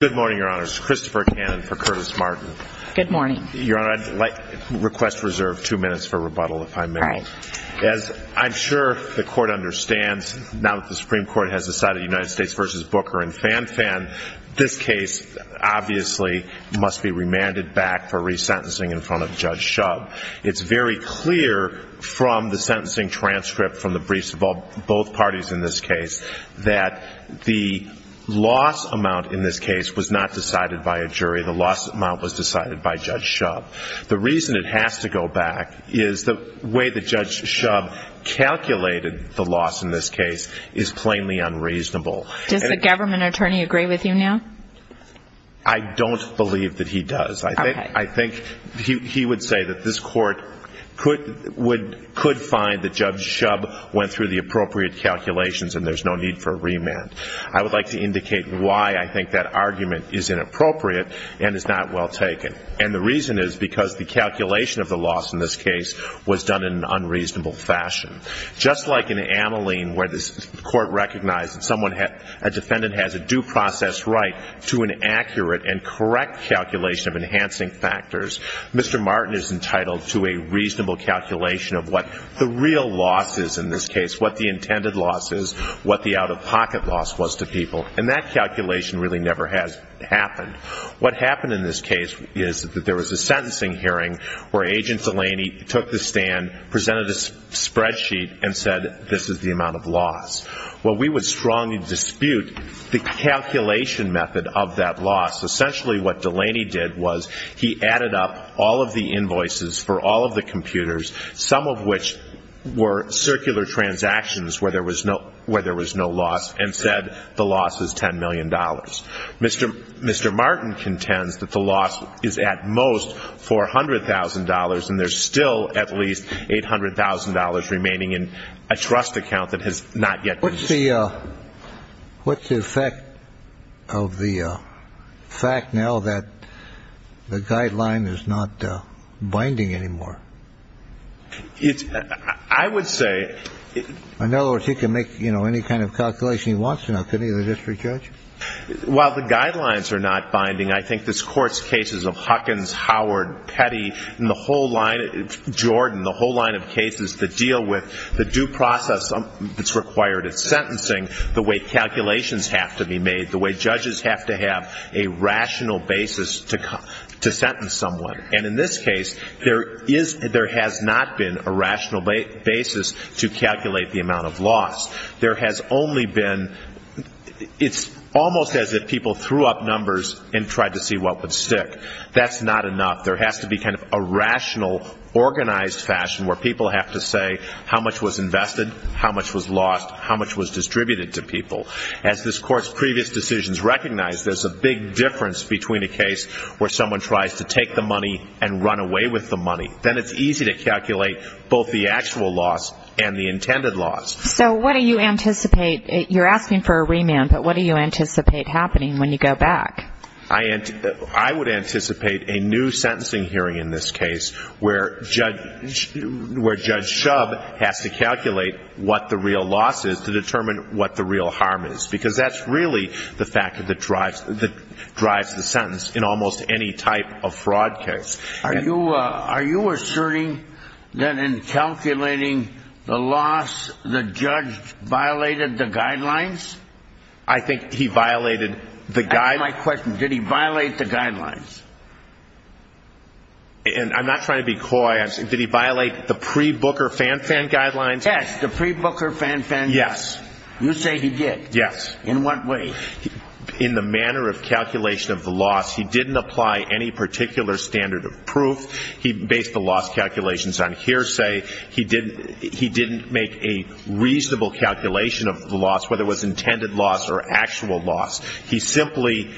Good morning, Your Honor. This is Christopher Cannon for Curtis Martin. Good morning. Your Honor, I'd like to request reserve two minutes for rebuttal, if I may. All right. As I'm sure the Court understands, now that the Supreme Court has decided United States v. Booker and Fan Fan, this case obviously must be remanded back for resentencing in front of Judge Shub. It's very clear from the sentencing transcript from the briefs of both parties in this case that the loss amount in this case was not decided by a jury. The loss amount was decided by Judge Shub. The reason it has to go back is the way that Judge Shub calculated the loss in this case is plainly unreasonable. Does the government attorney agree with you now? I don't believe that he does. I think he would say that this Court could find that Judge Shub went through the appropriate calculations and there's no need for a remand. I would like to indicate why I think that argument is inappropriate and is not well taken. And the reason is because the calculation of the loss in this case was done in an unreasonable fashion. Just like in Ameline where the Court recognized that a defendant has a due process right to an accurate and correct calculation of enhancing factors, Mr. Martin is entitled to a reasonable calculation of what the real loss is in this case, what the intended loss is, what the out-of-pocket loss was to people. And that calculation really never has happened. What happened in this case is that there was a sentencing hearing where Agent Delaney took the stand, presented a spreadsheet and said this is the amount of loss. Well, we would strongly dispute the calculation method of that loss. Essentially what Delaney did was he added up all of the invoices for all of the computers, some of which were circular transactions where there was no loss, and said the loss is $10 million. Mr. Martin contends that the loss is at most $400,000, and there's still at least $800,000 remaining in a trust account that has not yet been issued. What's the effect of the fact now that the guideline is not binding anymore? I would say – In other words, he can make any kind of calculation he wants to now, can't he, the district judge? While the guidelines are not binding, I think this Court's cases of Huckins, Howard, Petty, Jordan, the whole line of cases that deal with the due process that's required at sentencing, the way calculations have to be made, the way judges have to have a rational basis to sentence someone. And in this case, there has not been a rational basis to calculate the amount of loss. There has only been – it's almost as if people threw up numbers and tried to see what would stick. That's not enough. There has to be kind of a rational, organized fashion where people have to say how much was invested, how much was lost, how much was distributed to people. As this Court's previous decisions recognize, there's a big difference between a case where someone tries to take the money and run away with the money. Then it's easy to calculate both the actual loss and the intended loss. So what do you anticipate? You're asking for a remand, but what do you anticipate happening when you go back? I would anticipate a new sentencing hearing in this case where Judge Shub has to calculate what the real loss is to determine what the real harm is because that's really the fact that drives the sentence in almost any type of fraud case. Are you asserting that in calculating the loss, the judge violated the guidelines? I think he violated the – My question, did he violate the guidelines? And I'm not trying to be coy. Did he violate the pre-Booker fan-fan guidelines? Yes, the pre-Booker fan-fan – Yes. You say he did. Yes. In what way? In the manner of calculation of the loss, he didn't apply any particular standard of proof. He based the loss calculations on hearsay. He didn't make a reasonable calculation of the loss, whether it was intended loss or actual loss. He simply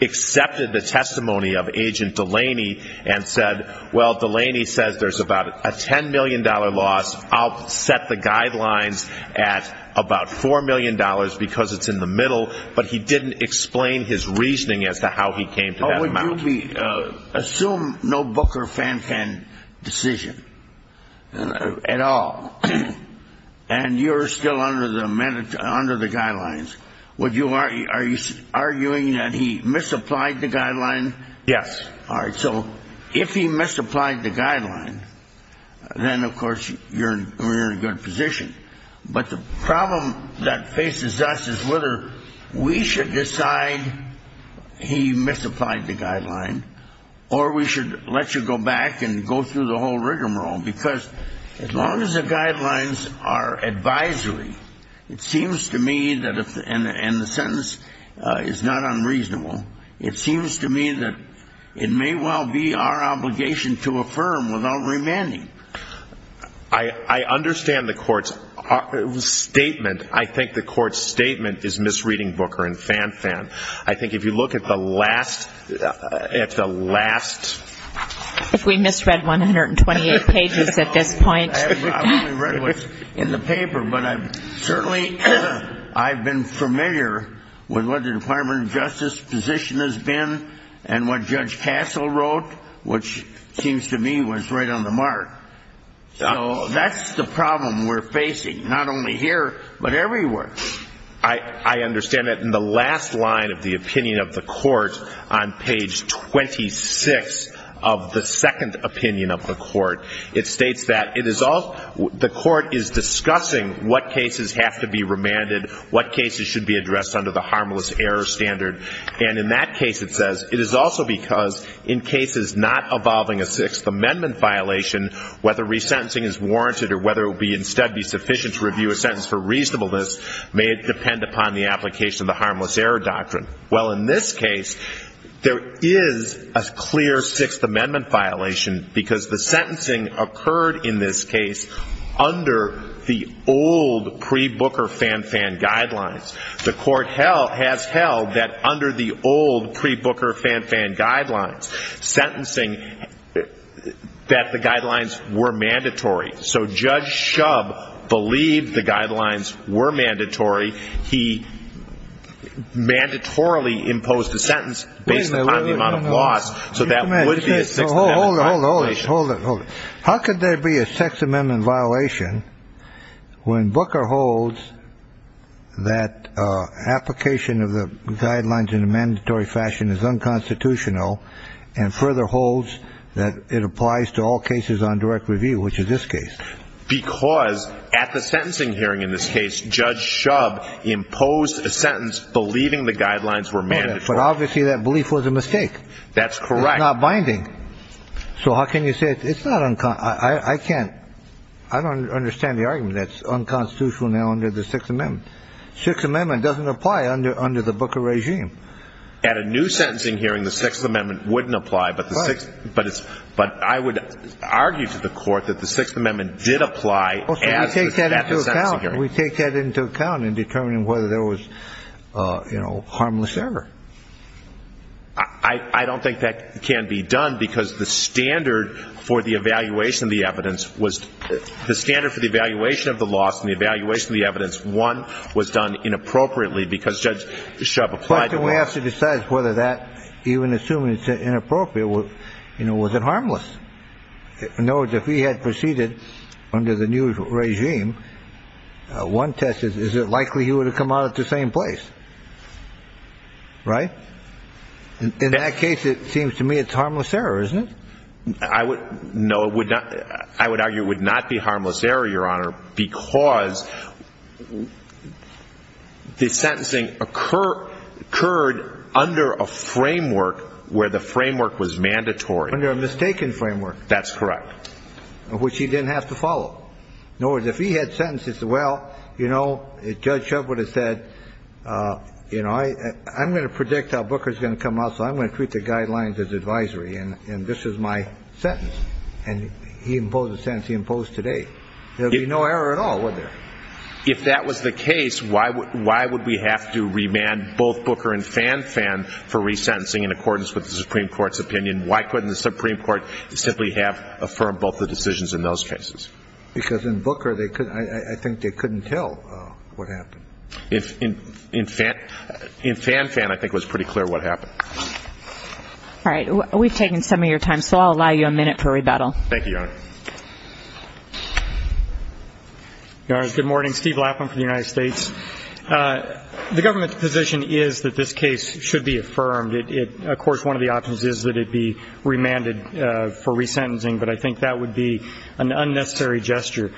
accepted the testimony of Agent Delaney and said, well, Delaney says there's about a $10 million loss. I'll set the guidelines at about $4 million because it's in the middle. But he didn't explain his reasoning as to how he came to that amount. Assume no Booker fan-fan decision at all, and you're still under the guidelines. Are you arguing that he misapplied the guidelines? Yes. All right. So if he misapplied the guidelines, then, of course, you're in a good position. But the problem that faces us is whether we should decide he misapplied the guidelines or we should let you go back and go through the whole rigmarole. Because as long as the guidelines are advisory, it seems to me that if – is not unreasonable, it seems to me that it may well be our obligation to affirm without remanding. I understand the Court's statement. I think the Court's statement is misreading Booker and fan-fan. I think if you look at the last – at the last – If we misread 128 pages at this point. I haven't really read what's in the paper, but I've certainly – I've been familiar with what the Department of Justice position has been and what Judge Castle wrote, which seems to me was right on the mark. So that's the problem we're facing, not only here, but everywhere. I understand that in the last line of the opinion of the Court on page 26 of the second opinion of the Court, it states that it is – the Court is discussing what cases have to be remanded, what cases should be addressed under the harmless error standard. And in that case, it says, it is also because in cases not involving a Sixth Amendment violation, whether resentencing is warranted or whether it would instead be sufficient to review a sentence for reasonableness may depend upon the application of the harmless error doctrine. Well, in this case, there is a clear Sixth Amendment violation because the sentencing occurred in this case under the old pre-Booker fan-fan guidelines. The Court has held that under the old pre-Booker fan-fan guidelines, sentencing – that the guidelines were mandatory. So Judge Shub believed the guidelines were mandatory. He mandatorily imposed a sentence based upon the amount of loss, so that would be a Sixth Amendment violation. Hold it, hold it, hold it. How could there be a Sixth Amendment violation when Booker holds that application of the guidelines in a mandatory fashion is unconstitutional and further holds that it applies to all cases on direct review, which is this case? Because at the sentencing hearing in this case, Judge Shub imposed a sentence believing the guidelines were mandatory. But obviously that belief was a mistake. That's correct. It's not binding. So how can you say – it's not – I can't – I don't understand the argument. That's unconstitutional now under the Sixth Amendment. Sixth Amendment doesn't apply under the Booker regime. At a new sentencing hearing, the Sixth Amendment wouldn't apply, but I would argue to the Court that the Sixth Amendment did apply at the sentencing hearing. So we take that into account. We take that into account in determining whether there was, you know, harmless error. I don't think that can be done because the standard for the evaluation of the evidence was – the standard for the evaluation of the loss and the evaluation of the evidence, one, was done inappropriately because Judge Shub applied to it. So we have to decide whether that, even assuming it's inappropriate, you know, was it harmless? In other words, if he had proceeded under the new regime, one test is, is it likely he would have come out at the same place? Right? In that case, it seems to me it's harmless error, isn't it? I would – no, it would not – I would argue it would not be harmless error, Your Honor, because the sentencing occurred under a framework where the framework was mandatory. Under a mistaken framework. That's correct. Which he didn't have to follow. In other words, if he had sentenced, he'd say, well, you know, Judge Shub would have said, you know, I'm going to predict how Booker's going to come out, so I'm going to treat the guidelines as advisory, and this is my sentence. And he imposed the sentence he imposed today. There would be no error at all, would there? If that was the case, why would we have to remand both Booker and Fanfan for resentencing in accordance with the Supreme Court's opinion? Why couldn't the Supreme Court simply have affirmed both the decisions in those cases? Because in Booker, they couldn't – I think they couldn't tell what happened. In Fanfan, I think it was pretty clear what happened. All right. We've taken some of your time, so I'll allow you a minute for rebuttal. Thank you, Your Honor. Your Honor, good morning. Steve Lapham for the United States. The government's position is that this case should be affirmed. Of course, one of the options is that it be remanded for resentencing, but I think that would be an unnecessary gesture.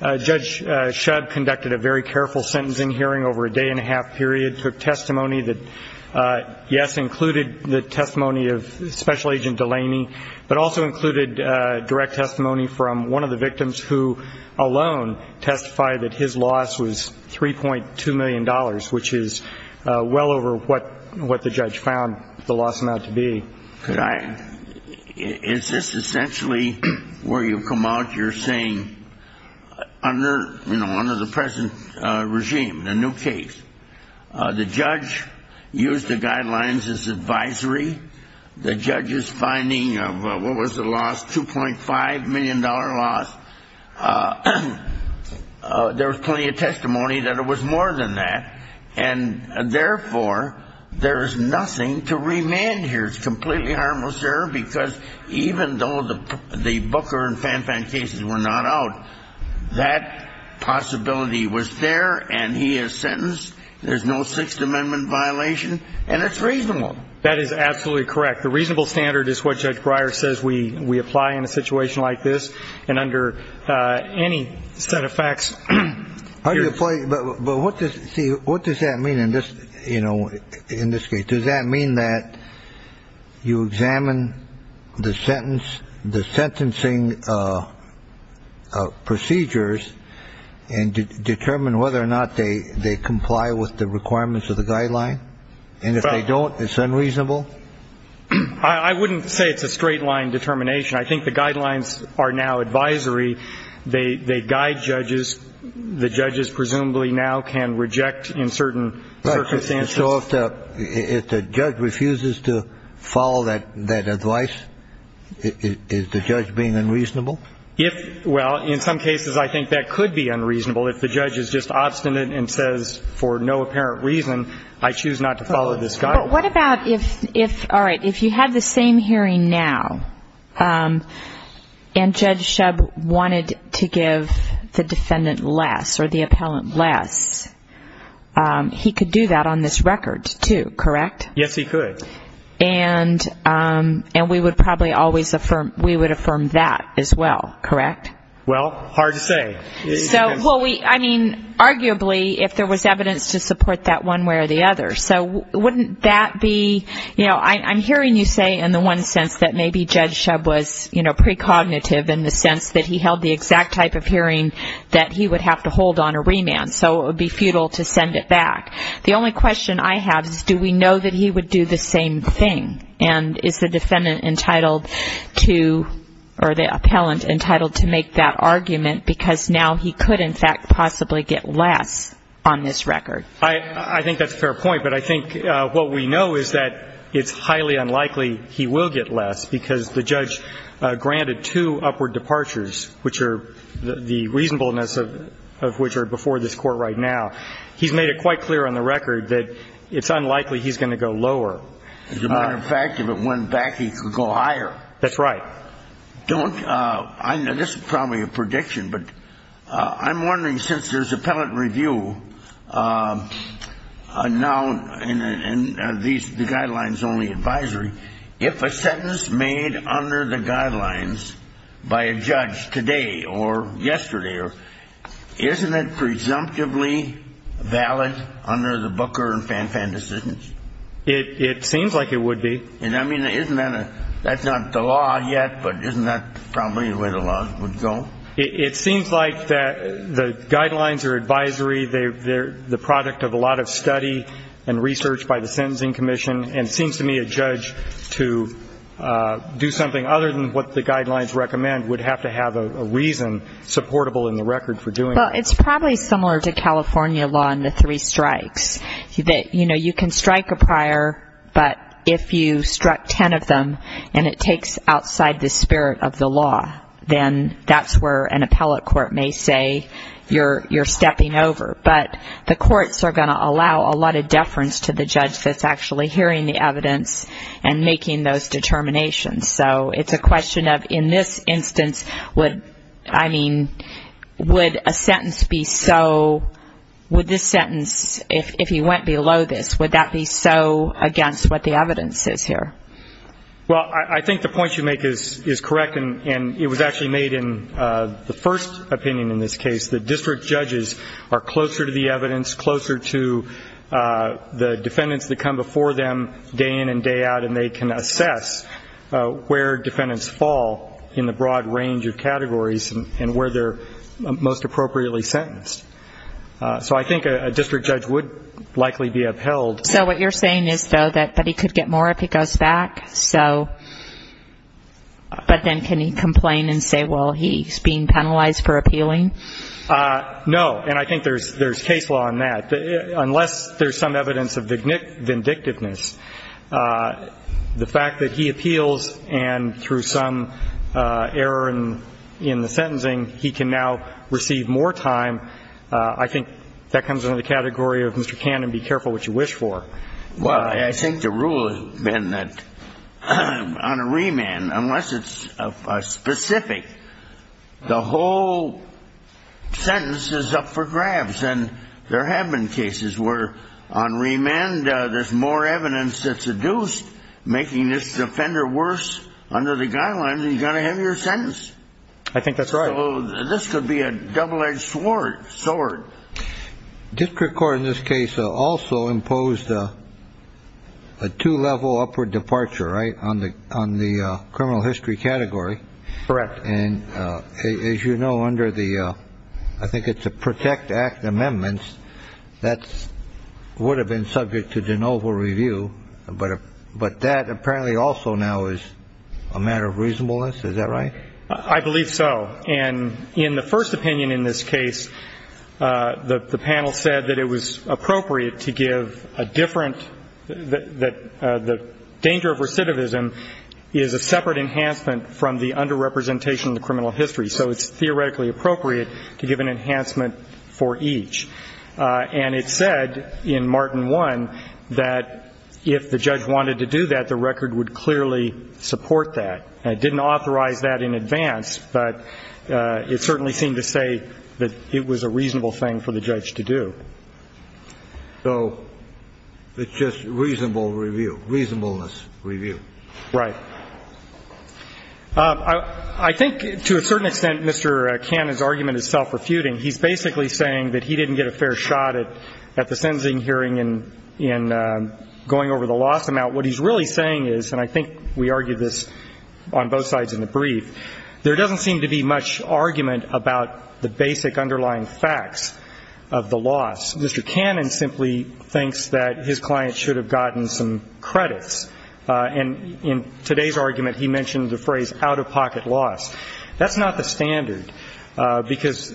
Judge Shub conducted a very careful sentencing hearing over a day-and-a-half period, took testimony that, yes, included the testimony of Special Agent Delaney, but also included direct testimony from one of the victims, who alone testified that his loss was $3.2 million, which is well over what the judge found the loss amount to be. Is this essentially where you come out? Under the present regime, the new case. The judge used the guidelines as advisory. The judge's finding of what was the loss, $2.5 million loss, there was plenty of testimony that it was more than that, and therefore there is nothing to remand here. It's completely harmless, sir, because even though the Booker and Fanfan cases were not out, that possibility was there, and he is sentenced. There's no Sixth Amendment violation, and it's reasonable. That is absolutely correct. The reasonable standard is what Judge Breyer says we apply in a situation like this, and under any set of facts. But what does that mean in this case? Does that mean that you examine the sentencing procedures and determine whether or not they comply with the requirements of the guideline? And if they don't, it's unreasonable? I wouldn't say it's a straight-line determination. I think the guidelines are now advisory. They guide judges. The judges presumably now can reject in certain circumstances. So if the judge refuses to follow that advice, is the judge being unreasonable? Well, in some cases I think that could be unreasonable if the judge is just obstinate and says for no apparent reason, I choose not to follow this guideline. But what about if, all right, if you had the same hearing now and Judge Shub wanted to give the defendant less or the appellant less, he could do that on this record too, correct? Yes, he could. And we would probably always affirm that as well, correct? Well, hard to say. I mean, arguably, if there was evidence to support that one way or the other. So wouldn't that be, you know, I'm hearing you say in the one sense that maybe Judge Shub was, you know, precognitive in the sense that he held the exact type of hearing that he would have to hold on a remand. So it would be futile to send it back. The only question I have is do we know that he would do the same thing? And is the defendant entitled to or the appellant entitled to make that argument because now he could, in fact, possibly get less on this record? I think that's a fair point. But I think what we know is that it's highly unlikely he will get less because the judge granted two upward departures, the reasonableness of which are before this Court right now. He's made it quite clear on the record that it's unlikely he's going to go lower. As a matter of fact, if it went back, he could go higher. That's right. This is probably a prediction, but I'm wondering since there's appellant review now and the guidelines only advisory, if a sentence made under the guidelines by a judge today or yesterday, isn't it presumptively valid under the Booker and Fanfan decisions? It seems like it would be. And, I mean, isn't that a, that's not the law yet, but isn't that probably the way the laws would go? It seems like the guidelines or advisory, they're the product of a lot of study and research by the Sentencing Commission, and it seems to me a judge to do something other than what the guidelines recommend would have to have a reason supportable in the record for doing it. Well, it's probably similar to California law in the three strikes. You know, you can strike a prior, but if you struck ten of them and it takes outside the spirit of the law, then that's where an appellate court may say you're stepping over. But the courts are going to allow a lot of deference to the judge that's actually hearing the evidence and making those determinations. So it's a question of in this instance, would, I mean, would a sentence be so, would this sentence, if he went below this, would that be so against what the evidence is here? Well, I think the point you make is correct, and it was actually made in the first opinion in this case, that district judges are closer to the evidence, closer to the defendants that come before them day in and day out, and they can assess where defendants fall in the broad range of categories and where they're most appropriately sentenced. So I think a district judge would likely be upheld. So what you're saying is, though, that he could get more if he goes back? So, but then can he complain and say, well, he's being penalized for appealing? No. And I think there's case law on that. Unless there's some evidence of vindictiveness, the fact that he appeals and through some error in the sentencing he can now receive more time, I think that comes under the category of Mr. Cannon, be careful what you wish for. Well, I think the rule has been that on a remand, unless it's specific, the whole sentence is up for grabs, and there have been cases where on remand there's more evidence that's adduced, making this offender worse under the guidelines, and you've got a heavier sentence. I think that's right. So this could be a double-edged sword. District court in this case also imposed a two-level upward departure, right, on the criminal history category. Correct. And as you know, under the I think it's a Protect Act amendments, that would have been subject to de novo review, but that apparently also now is a matter of reasonableness. Is that right? I believe so. And in the first opinion in this case, the panel said that it was appropriate to give a different, that the danger of recidivism is a separate enhancement from the underrepresentation of the criminal history, so it's theoretically appropriate to give an enhancement for each. And it said in Martin 1 that if the judge wanted to do that, the record would clearly support that. It didn't authorize that in advance, but it certainly seemed to say that it was a reasonable thing for the judge to do. So it's just reasonable review, reasonableness review. Right. I think to a certain extent Mr. Cannon's argument is self-refuting. He's basically saying that he didn't get a fair shot at the sentencing hearing in going over the loss amount. What he's really saying is, and I think we argued this on both sides in the brief, there doesn't seem to be much argument about the basic underlying facts of the loss. Mr. Cannon simply thinks that his client should have gotten some credits. And in today's argument, he mentioned the phrase out-of-pocket loss. That's not the standard, because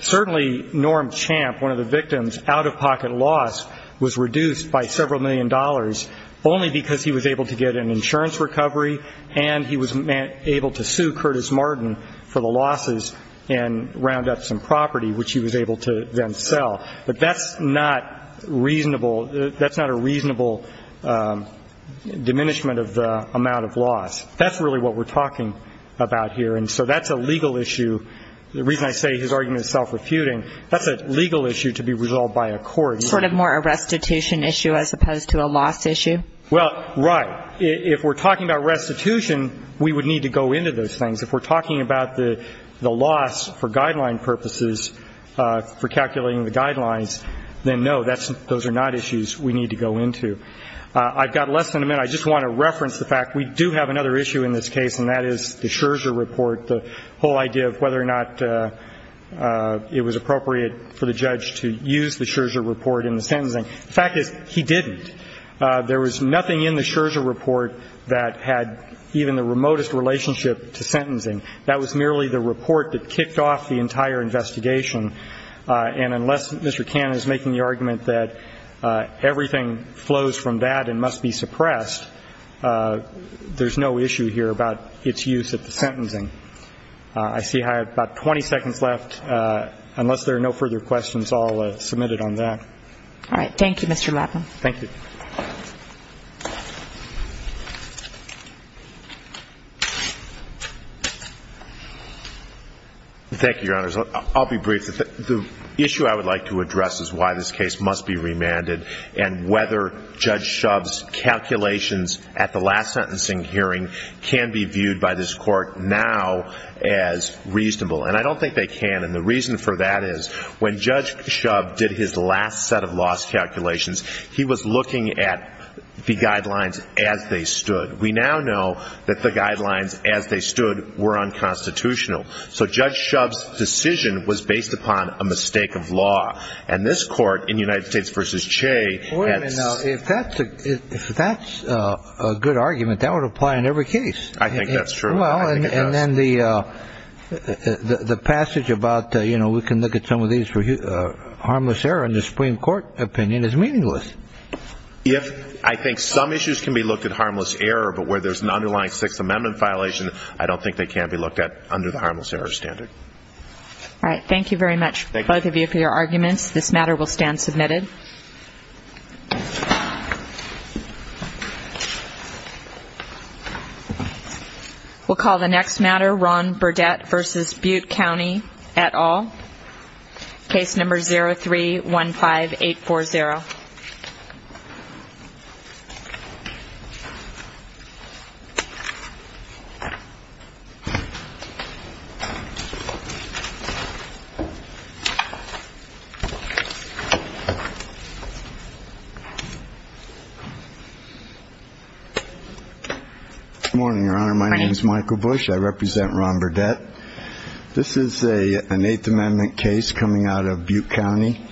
certainly Norm Champ, one of the victims, out-of-pocket loss was reduced by several million dollars only because he was able to get an insurance recovery and he was able to sue Curtis Martin for the losses and round up some property, which he was able to then sell. But that's not reasonable. That's not a reasonable diminishment of the amount of loss. That's really what we're talking about here. And so that's a legal issue. The reason I say his argument is self-refuting, that's a legal issue to be resolved by a court. Sort of more a restitution issue as opposed to a loss issue? Well, right. If we're talking about restitution, we would need to go into those things. If we're talking about the loss for guideline purposes, for calculating the guidelines, then no, those are not issues we need to go into. I've got less than a minute. I just want to reference the fact we do have another issue in this case, and that is the Scherzer report, the whole idea of whether or not it was appropriate for the judge to use the Scherzer report in the sentencing. The fact is he didn't. There was nothing in the Scherzer report that had even the remotest relationship to sentencing. That was merely the report that kicked off the entire investigation. And unless Mr. Cannon is making the argument that everything flows from that and must be suppressed, there's no issue here about its use at the sentencing. I see I have about 20 seconds left. Unless there are no further questions, I'll submit it on that. All right. Thank you, Mr. Lappin. Thank you. Thank you, Your Honors. I'll be brief. The issue I would like to address is why this case must be remanded and whether Judge Shub's calculations at the last sentencing hearing can be viewed by this court now as reasonable. And I don't think they can. And the reason for that is when Judge Shub did his last set of loss calculations, he was looking at the guidelines as they stood. We now know that the guidelines as they stood were unconstitutional. So Judge Shub's decision was based upon a mistake of law. And this court, in United States v. Chey... Wait a minute now. If that's a good argument, that would apply in every case. I think that's true. Well, and then the passage about, you know, we can look at some of these for harmless error in the Supreme Court opinion is meaningless. I think some issues can be looked at harmless error, but where there's an underlying Sixth Amendment violation, I don't think they can be looked at under the harmless error standard. All right. Thank you very much, both of you, for your arguments. This matter will stand submitted. We'll call the next matter, Ron Burdett v. Butte County et al., Case number 03-15840. Good morning, Your Honor. My name is Michael Bush. I represent Ron Burdett. This is an Eighth Amendment case coming out of Butte County.